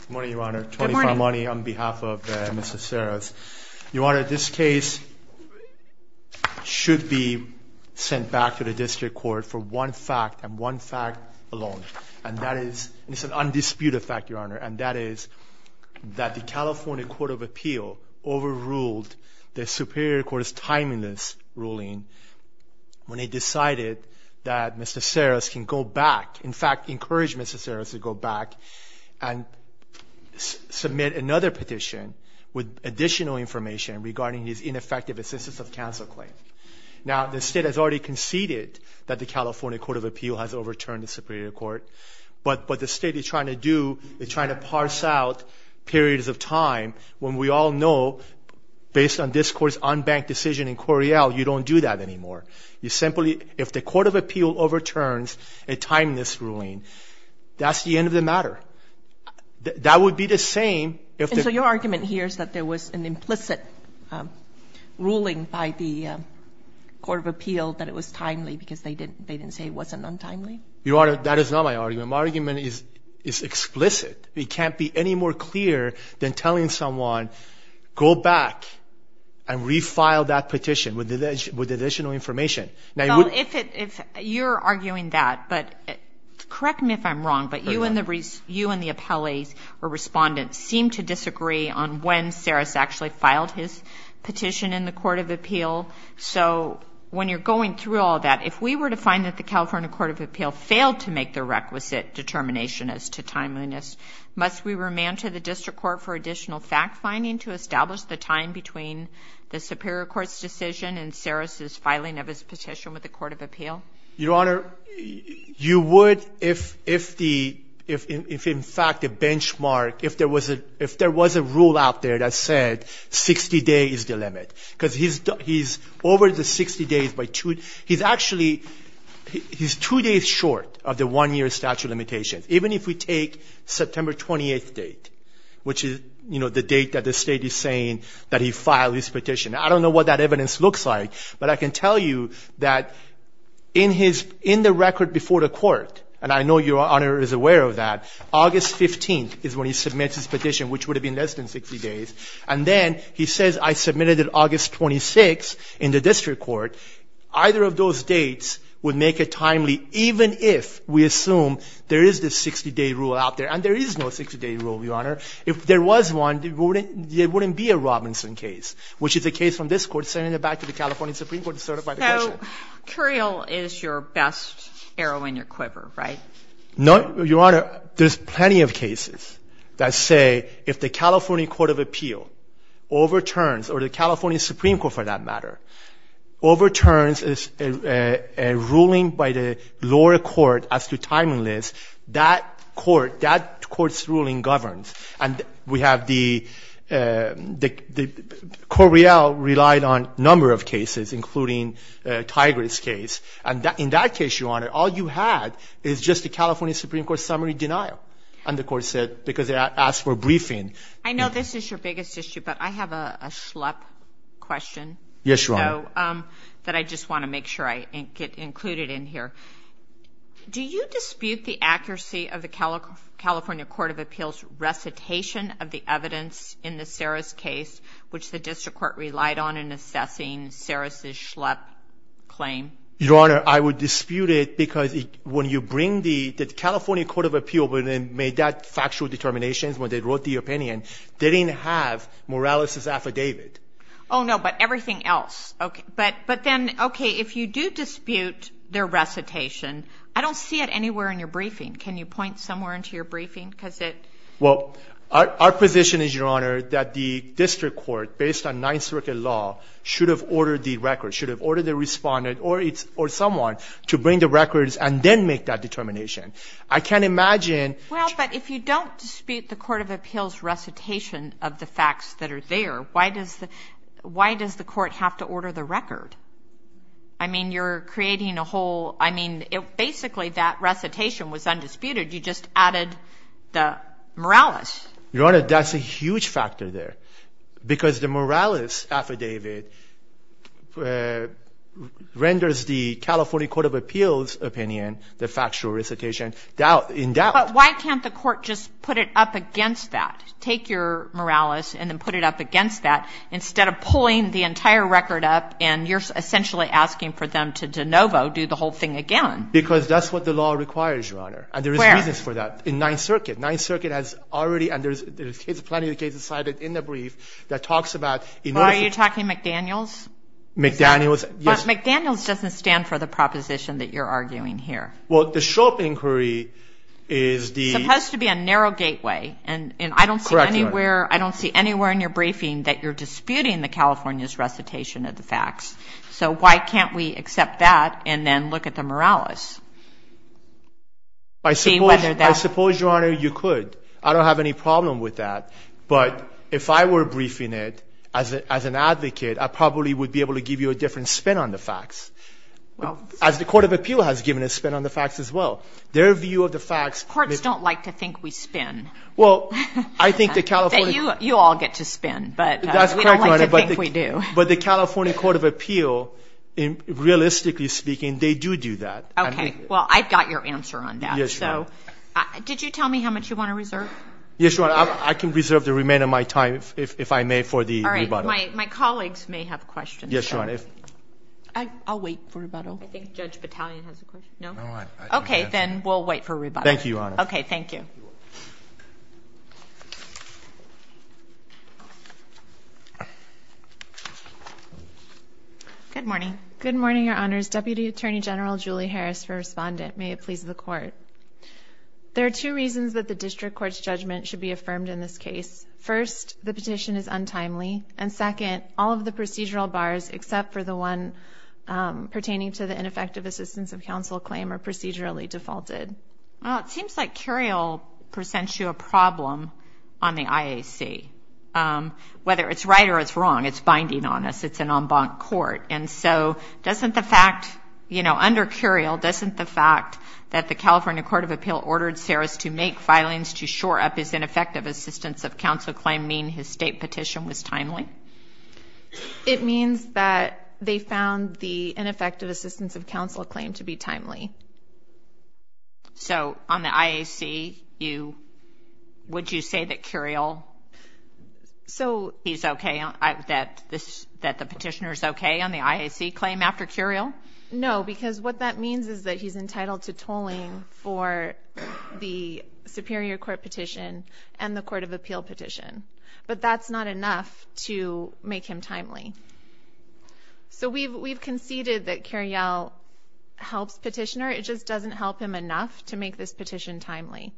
Good morning, Your Honor. Tony Farmani on behalf of Mr. Ceras. Your Honor, this case should be sent back to the District Court for one fact and one fact alone and that is, it's an undisputed fact, Your Honor, and that is that the California Court of Appeal overruled the Superior Court's timeliness ruling when they decided that Mr. Ceras can go back, in fact encourage Mr. Ceras to go back and submit another petition with additional information regarding his ineffective assistance of counsel claim. Now, the state has already conceded that the California Court of Appeal has overturned the Superior Court, but what the state is trying to do is try to parse out periods of time when we all know, based on this Court's unbanked decision in Correal, you don't do that anymore. You simply, if the Court of Appeal overturns a timeliness ruling, that's the end of the matter. That would be the same if... And so your argument here is that there was an implicit ruling by the Court of Appeal that it was timely because they didn't say it wasn't untimely? Your Honor, that is not my argument. My argument is explicit. It can't be any more clear than telling someone, go back and refile that petition with additional information. Now, if you're arguing that, but correct me if I'm wrong, but you and the appellees or respondents seem to disagree on when Ceras actually filed his petition in the Court of Appeal. So when you're going through all that, if we were to find that the California Court of Appeal failed to make the requisite determination as to timeliness, must we remand to the District Court for additional fact-finding to establish the time between the Superior Court's decision and Ceras's filing of his petition with the Court of Appeal? Your Honor, you would if the, if in fact the benchmark, if there was a rule out there that said 60 days is the limit, because he's over the 60 days by two. He's actually, he's two days short of the one-year statute of limitations, even if we take September 28th date, which is, you know, the date that the State is saying that he filed his petition. I don't know what that evidence looks like, but I can tell you that in his, in the record before the Court, and I know Your Honor is aware of that, August 15th is when he submits his petition, which would have been less than 60 days. And then he says, I submitted it August 26th in the District Court. Either of those dates would make it timely, even if we assume there is this 60-day rule out there. And there is no 60-day rule, Your Honor. If there was one, there wouldn't, there wouldn't be a Robinson case, which is a question. So Curiel is your best arrow and your quiver, right? No, Your Honor, there's plenty of cases that say if the California Court of Appeal overturns, or the California Supreme Court for that matter, overturns a ruling by the lower court as to timeliness, that court, that court's ruling governs. And we have the, the, the, Correal relied on a number of cases, including Tigris case. And that, in that case, Your Honor, all you had is just the California Supreme Court summary denial. And the court said, because it asked for a briefing. I know this is your biggest issue, but I have a, a schlep question. Yes, Your Honor. That I just want to make sure I get included in here. Do you dispute the accuracy of the California Court of Appeal's recitation of the evidence in the Saris case, which the District Court relied on in assessing Saris's schlep claim? Your Honor, I would dispute it because it, when you bring the, the California Court of Appeal, when it made that factual determination, when they wrote the opinion, they didn't have Morales' affidavit. Oh, no, but everything else. Okay. But, but then, okay, if you do dispute their recitation, I don't see it anywhere in your briefing. Can you point somewhere into your briefing? Because it... Well, our, our position is, Your Honor, that the District Court, based on the Ninth Circuit law, should have ordered the record, should have ordered the respondent or its, or someone to bring the records and then make that determination. I can't imagine... Well, but if you don't dispute the Court of Appeal's recitation of the facts that are there, why does the, why does the court have to order the record? I mean, you're creating a whole, I mean, it, basically, that recitation was undisputed. You just added the Morales. Your Honor, that's a huge factor there, because the Morales' affidavit renders the California Court of Appeal's opinion, the factual recitation, doubt, in doubt. But why can't the court just put it up against that? Take your Morales and then put it up against that, instead of pulling the entire record up, and you're essentially asking for them to de novo, do the whole thing again. Because that's what the law requires, Your Honor, and there is reasons for that in Ninth Circuit. Ninth Circuit has already, and there's plenty of cases cited in the brief, that talks about... Are you talking McDaniels? McDaniels, yes. But McDaniels doesn't stand for the proposition that you're arguing here. Well, the Shropp inquiry is the... It's supposed to be a narrow gateway, and I don't see anywhere, I don't see anywhere in your briefing that you're disputing the California's recitation of the facts. So why can't we accept that and then look at the Morales? I suppose, Your Honor, you could. I don't have any problem with that, but if I were briefing it as an advocate, I probably would be able to give you a different spin on the facts, as the Court of Appeal has given a spin on the facts as well. Their view of the facts... Courts don't like to think we spin. Well, I think the California... You all get to spin, but we don't like to think we do. That's correct, Your Honor, but the California Court of Appeal, realistically speaking, they do do that. Okay. Well, I've got your answer on that. Yes, Your Honor. Did you tell me how much you want to reserve? Yes, Your Honor. I can reserve the remainder of my time, if I may, for the rebuttal. All right. My colleagues may have questions. Yes, Your Honor. I'll wait for rebuttal. I think Judge Battalion has a question. No? Okay, then we'll wait for rebuttal. Thank you, Your Honor. Okay. Thank you. Good morning. Good morning, Your Honors. Deputy Attorney General Julie Harris for Respondent. May it please the Court. There are two reasons that the district court's judgment should be affirmed in this case. First, the petition is untimely, and second, all of the procedural bars except for the one pertaining to the ineffective assistance of counsel claim are procedurally defaulted. It seems like Curiel presents you a problem on the IAC. Whether it's right or it's wrong, it's binding on us. It's an en banc court. And so doesn't the fact, you know, under Curiel, doesn't the fact that the California Court of Appeal ordered Saris to make filings to shore up his ineffective assistance of counsel claim mean his state petition was timely? It means that they found the ineffective assistance of counsel claim to be timely. So on the IAC, would you say that Curiel is okay, that the petitioner is okay on the IAC claim after Curiel? No, because what that means is that he's entitled to tolling for the Superior Court petition and the Court of Appeal petition. But that's not enough to make him timely. So we've conceded that Curiel helps petitioner. It just doesn't help him enough to make this petition timely.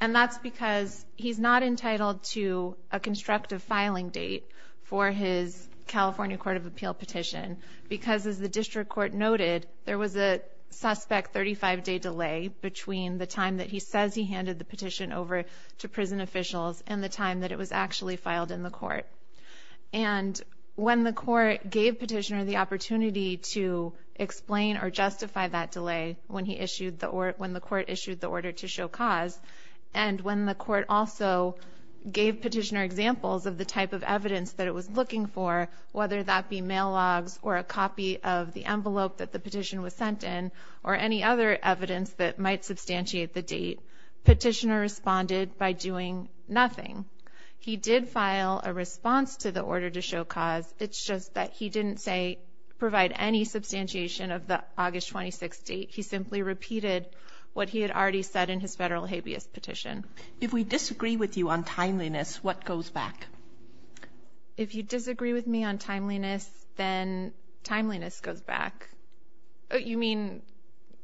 And that's because he's not entitled to a constructive filing date for his California Court of Appeal petition because, as the district court noted, there was a suspect 35-day delay between the time that he says he handed the petition over to prison officials and the time that it was actually filed in the court. And when the court gave petitioner the opportunity to explain or justify that delay when the court issued the order to show cause, and when the court also gave petitioner examples of the type of evidence that it was looking for, whether that be mail logs or a copy of the envelope that the petition was sent in or any other evidence that might substantiate the date, petitioner responded by doing nothing. He did file a response to the order to show cause. It's just that he didn't say provide any substantiation of the August 26th date. He simply repeated what he had already said in his federal habeas petition. If we disagree with you on timeliness, what goes back? If you disagree with me on timeliness, then timeliness goes back. You mean?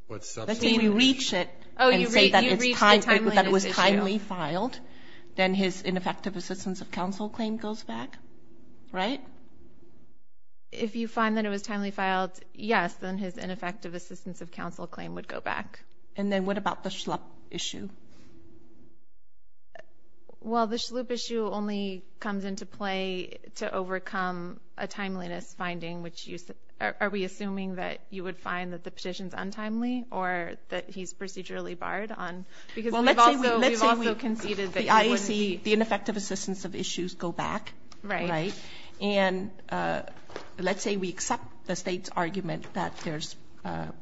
Let's say we reach it and say that it was timely filed, then his ineffective assistance of counsel claim goes back, right? If you find that it was timely filed, yes, then his ineffective assistance of counsel claim would go back. And then what about the schlup issue? Well, the schlup issue only comes into play to overcome a timeliness finding, which are we assuming that you would find that the petition's untimely or that he's procedurally barred on? Because we've also conceded that he wouldn't be. The ineffective assistance of issues go back, right? Right. And let's say we accept the state's argument that there's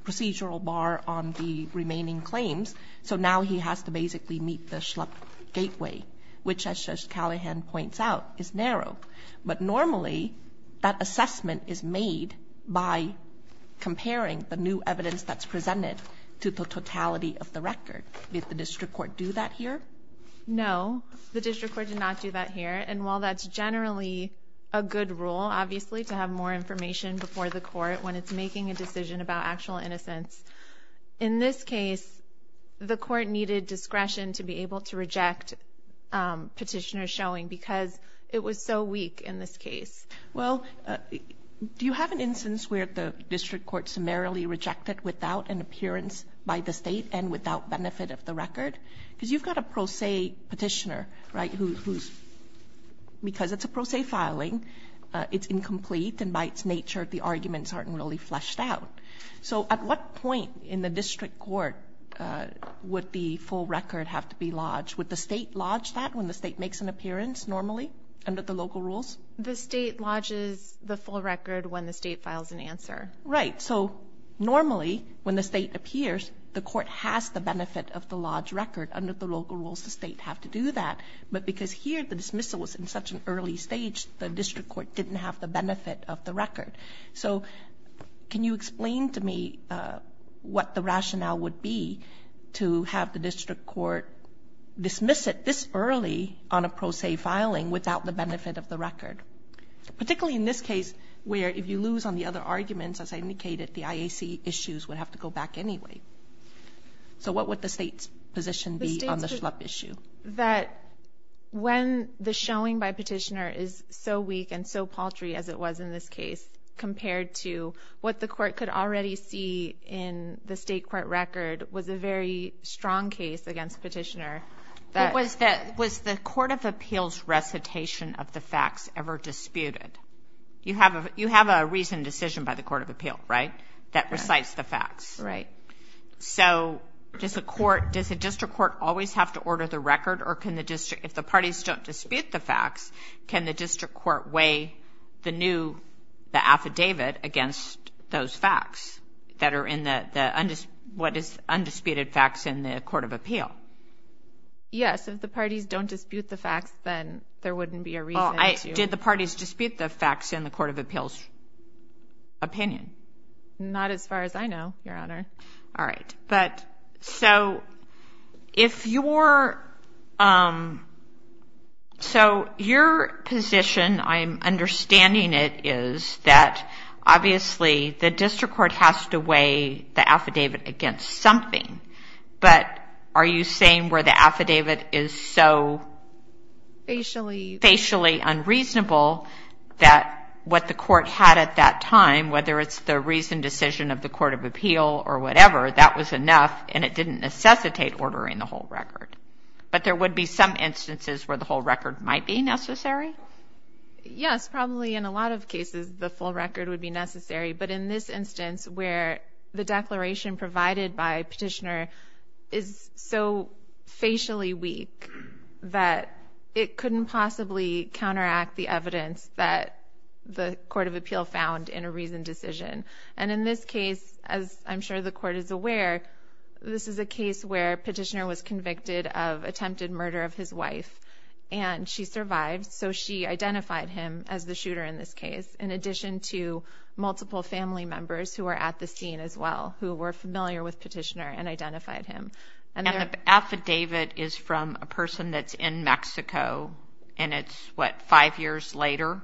procedural bar on the remaining claims, so now he has to basically meet the schlup gateway, which, as Judge Callahan points out, is narrow. But normally, that assessment is made by comparing the new evidence that's submitted to the district court. Does the district court do that here? No. The district court did not do that here. And while that's generally a good rule, obviously, to have more information before the court when it's making a decision about actual innocence, in this case, the court needed discretion to be able to reject petitioner showing because it was so weak in this case. Well, do you have an instance where the district court summarily rejected without an appearance by the state and without benefit of the record? Because you've got a pro se petitioner, right, who's because it's a pro se filing, it's incomplete, and by its nature, the arguments aren't really fleshed out. So at what point in the district court would the full record have to be lodged? Would the state lodge that when the state makes an appearance normally under the local rules? The state lodges the full record when the state files an answer. Right. So normally, when the state appears, the court has the benefit of the lodge record. Under the local rules, the state have to do that. But because here the dismissal was in such an early stage, the district court didn't have the benefit of the record. So can you explain to me what the rationale would be to have the district court dismiss it this early on a pro se filing without the benefit of the record? Particularly in this case where if you lose on the other arguments, as I indicated, the IAC issues would have to go back anyway. So what would the state's position be on the schlup issue? That when the showing by petitioner is so weak and so paltry as it was in this case, compared to what the court could already see in the state court record, was a very strong case against petitioner. Was the court of appeals recitation of the facts ever disputed? You have a reasoned decision by the court of appeal, right, that recites the facts. Right. So does the district court always have to order the record? Or if the parties don't dispute the facts, can the district court weigh the new affidavit against those facts that are in the undisputed facts in the court of appeal? Yes. If the parties don't dispute the facts, then there wouldn't be a reason to. So did the parties dispute the facts in the court of appeals opinion? Not as far as I know, Your Honor. All right. So your position, I'm understanding it, is that obviously the district court has to weigh the affidavit against something. But are you saying where the affidavit is so... Facially. Facially unreasonable that what the court had at that time, whether it's the reasoned decision of the court of appeal or whatever, that was enough and it didn't necessitate ordering the whole record. But there would be some instances where the whole record might be necessary? Yes, probably in a lot of cases the full record would be necessary. But in this instance where the declaration provided by petitioner is so facially weak that it couldn't possibly counteract the evidence that the court of appeal found in a reasoned decision. And in this case, as I'm sure the court is aware, this is a case where petitioner was convicted of attempted murder of his wife and she survived. So she identified him as the shooter in this case in addition to multiple family members who were at the scene as well who were familiar with petitioner and identified him. And the affidavit is from a person that's in Mexico and it's, what, five years later?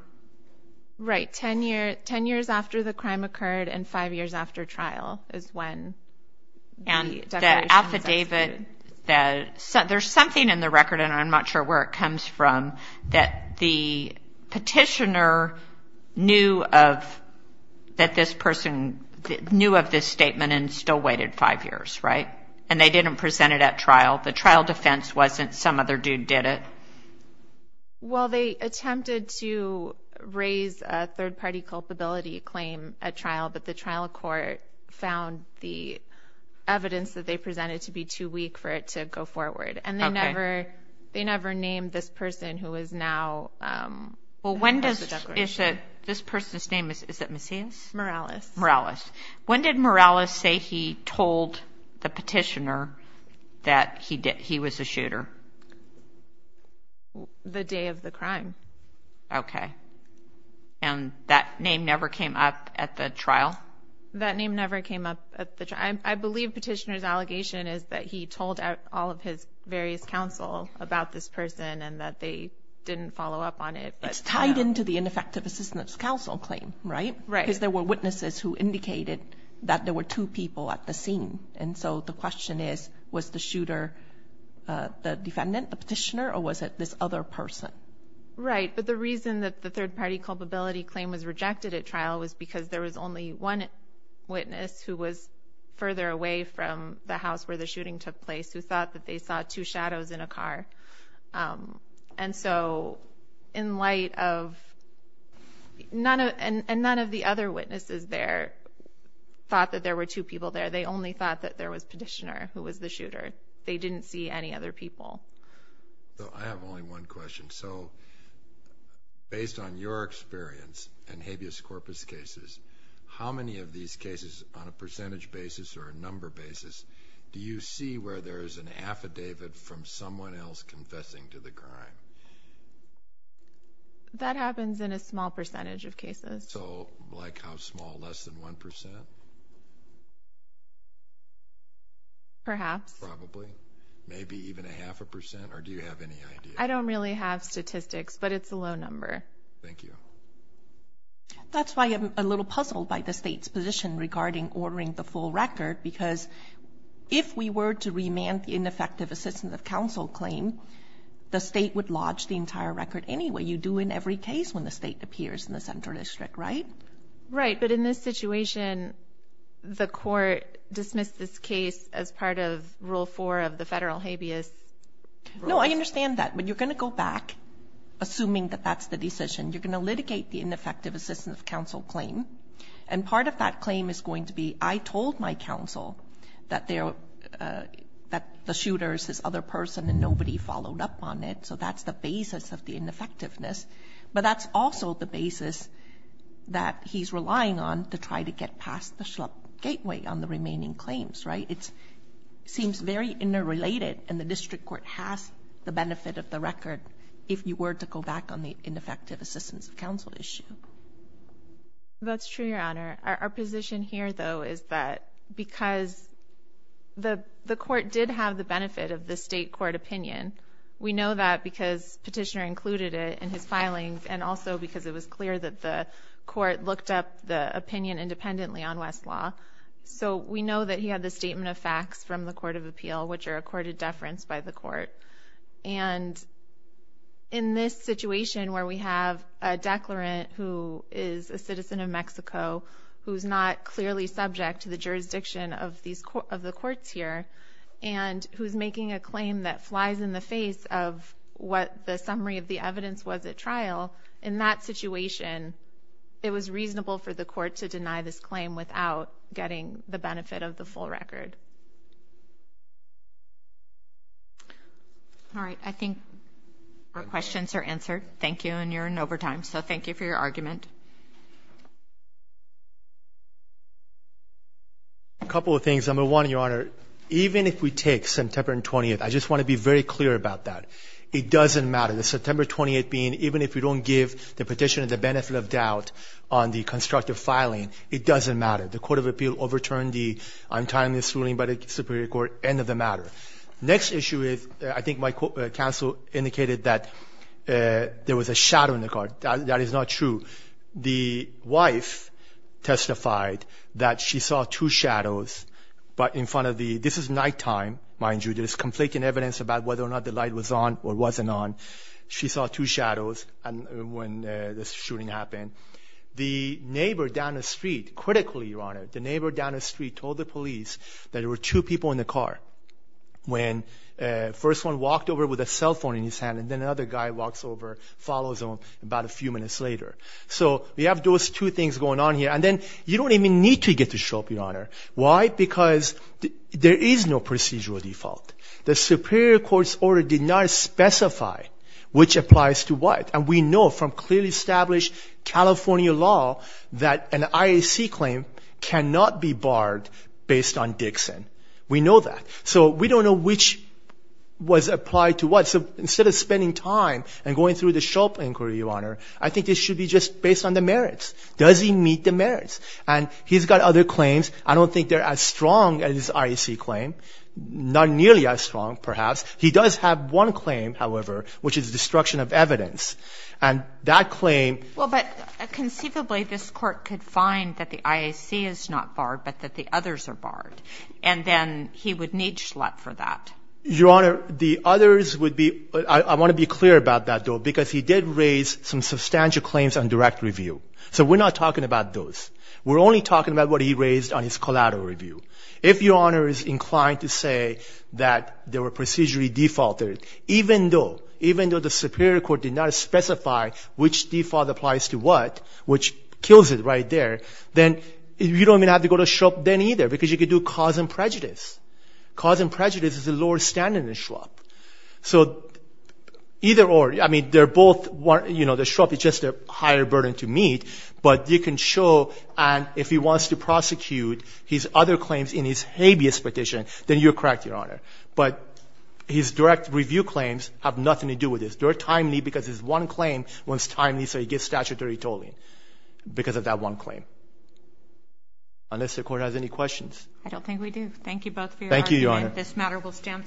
Right. Ten years after the crime occurred and five years after trial is when the declaration was executed. And the affidavit, there's something in the record and I'm not sure where it is, that the petitioner knew of, that this person knew of this statement and still waited five years, right? And they didn't present it at trial. The trial defense wasn't some other dude did it. Well, they attempted to raise a third-party culpability claim at trial but the trial court found the evidence that they presented to be too weak for it to go forward. Okay. And they never named this person who is now part of the declaration. Well, when does this person's name, is it Macias? Morales. Morales. When did Morales say he told the petitioner that he was a shooter? The day of the crime. Okay. And that name never came up at the trial? That name never came up at the trial. I believe petitioner's allegation is that he told all of his various counsel about this person and that they didn't follow up on it. It's tied into the ineffective assistance counsel claim, right? Right. Because there were witnesses who indicated that there were two people at the scene. And so the question is, was the shooter the defendant, the petitioner, or was it this other person? Right. But the reason that the third-party culpability claim was rejected at trial was because there was only one witness who was further away from the house where the shooting took place who thought that they saw two shadows in a car. And so in light of none of the other witnesses there thought that there were two people there. They only thought that there was petitioner who was the shooter. They didn't see any other people. I have only one question. So based on your experience in habeas corpus cases, how many of these cases on a percentage basis or a number basis do you see where there is an affidavit from someone else confessing to the crime? That happens in a small percentage of cases. So like how small? Less than 1%? Perhaps. Probably? Maybe even a half a percent? Or do you have any idea? I don't really have statistics, but it's a low number. Thank you. That's why I'm a little puzzled by the state's position regarding ordering the full record because if we were to remand the ineffective assistance of counsel claim, the state would lodge the entire record anyway. You do in every case when the state appears in the central district, right? Right. But in this situation, the court dismissed this case as part of Rule 4 of the federal habeas. No, I understand that. But you're going to go back, assuming that that's the decision. You're going to litigate the ineffective assistance of counsel claim, and part of that claim is going to be, I told my counsel that the shooter is this other person and nobody followed up on it, so that's the basis of the ineffectiveness. But that's also the basis that he's relying on to try to get past the gateway on the remaining claims, right? It seems very interrelated, and the district court has the benefit of the record if you were to go back on the ineffective assistance of counsel issue. That's true, Your Honor. Our position here, though, is that because the court did have the benefit of the state court opinion, we know that because Petitioner included it in his filings and also because it was clear that the court looked up the opinion independently on Westlaw. So we know that he had the statement of facts from the court of appeal, which are accorded deference by the court. And in this situation where we have a declarant who is a citizen of Mexico who's not clearly subject to the jurisdiction of the courts here and who's making a claim that flies in the face of what the summary of the evidence was at trial, in that situation it was reasonable for the court to deny this getting the benefit of the full record. All right. I think our questions are answered. Thank you, and you're in overtime, so thank you for your argument. A couple of things. Number one, Your Honor, even if we take September 20th, I just want to be very clear about that. It doesn't matter. The September 20th being even if we don't give the petitioner the benefit of doubt on the constructive filing, it doesn't matter. The court of appeal overturned the untimely ruling by the Superior Court. End of the matter. Next issue is I think my counsel indicated that there was a shadow in the car. That is not true. The wife testified that she saw two shadows, but in front of the ñ this is nighttime, mind you. There's conflicting evidence about whether or not the light was on or wasn't on. She saw two shadows when the shooting happened. The neighbor down the street, critically, Your Honor, the neighbor down the street told the police that there were two people in the car when the first one walked over with a cell phone in his hand, and then another guy walks over, follows him about a few minutes later. So we have those two things going on here. And then you don't even need to get a show up, Your Honor. Why? Because there is no procedural default. The Superior Court's order did not specify which applies to what. And we know from clearly established California law that an IAC claim cannot be barred based on Dixon. We know that. So we don't know which was applied to what. So instead of spending time and going through the show up inquiry, Your Honor, I think this should be just based on the merits. Does he meet the merits? And he's got other claims. I don't think they're as strong as IAC claim, not nearly as strong, perhaps. He does have one claim, however, which is destruction of evidence. And that claim ---- Well, but conceivably this Court could find that the IAC is not barred, but that the others are barred. And then he would need Schlatt for that. Your Honor, the others would be ---- I want to be clear about that, though, because he did raise some substantial claims on direct review. So we're not talking about those. We're only talking about what he raised on his collateral review. If Your Honor is inclined to say that there were procedurally defaulted, even though the Superior Court did not specify which default applies to what, which kills it right there, then you don't even have to go to Schrupp then either because you could do cause and prejudice. Cause and prejudice is a lower standard than Schrupp. So either or. I mean, they're both ---- You know, the Schrupp is just a higher burden to meet. But you can show, and if he wants to prosecute his other claims in his habeas petition, then you're correct, Your Honor. But his direct review claims have nothing to do with this. They're timely because his one claim was timely, so he gets statutory tolling because of that one claim. Unless the Court has any questions. I don't think we do. Thank you both for your argument. Thank you, Your Honor. This matter will stand.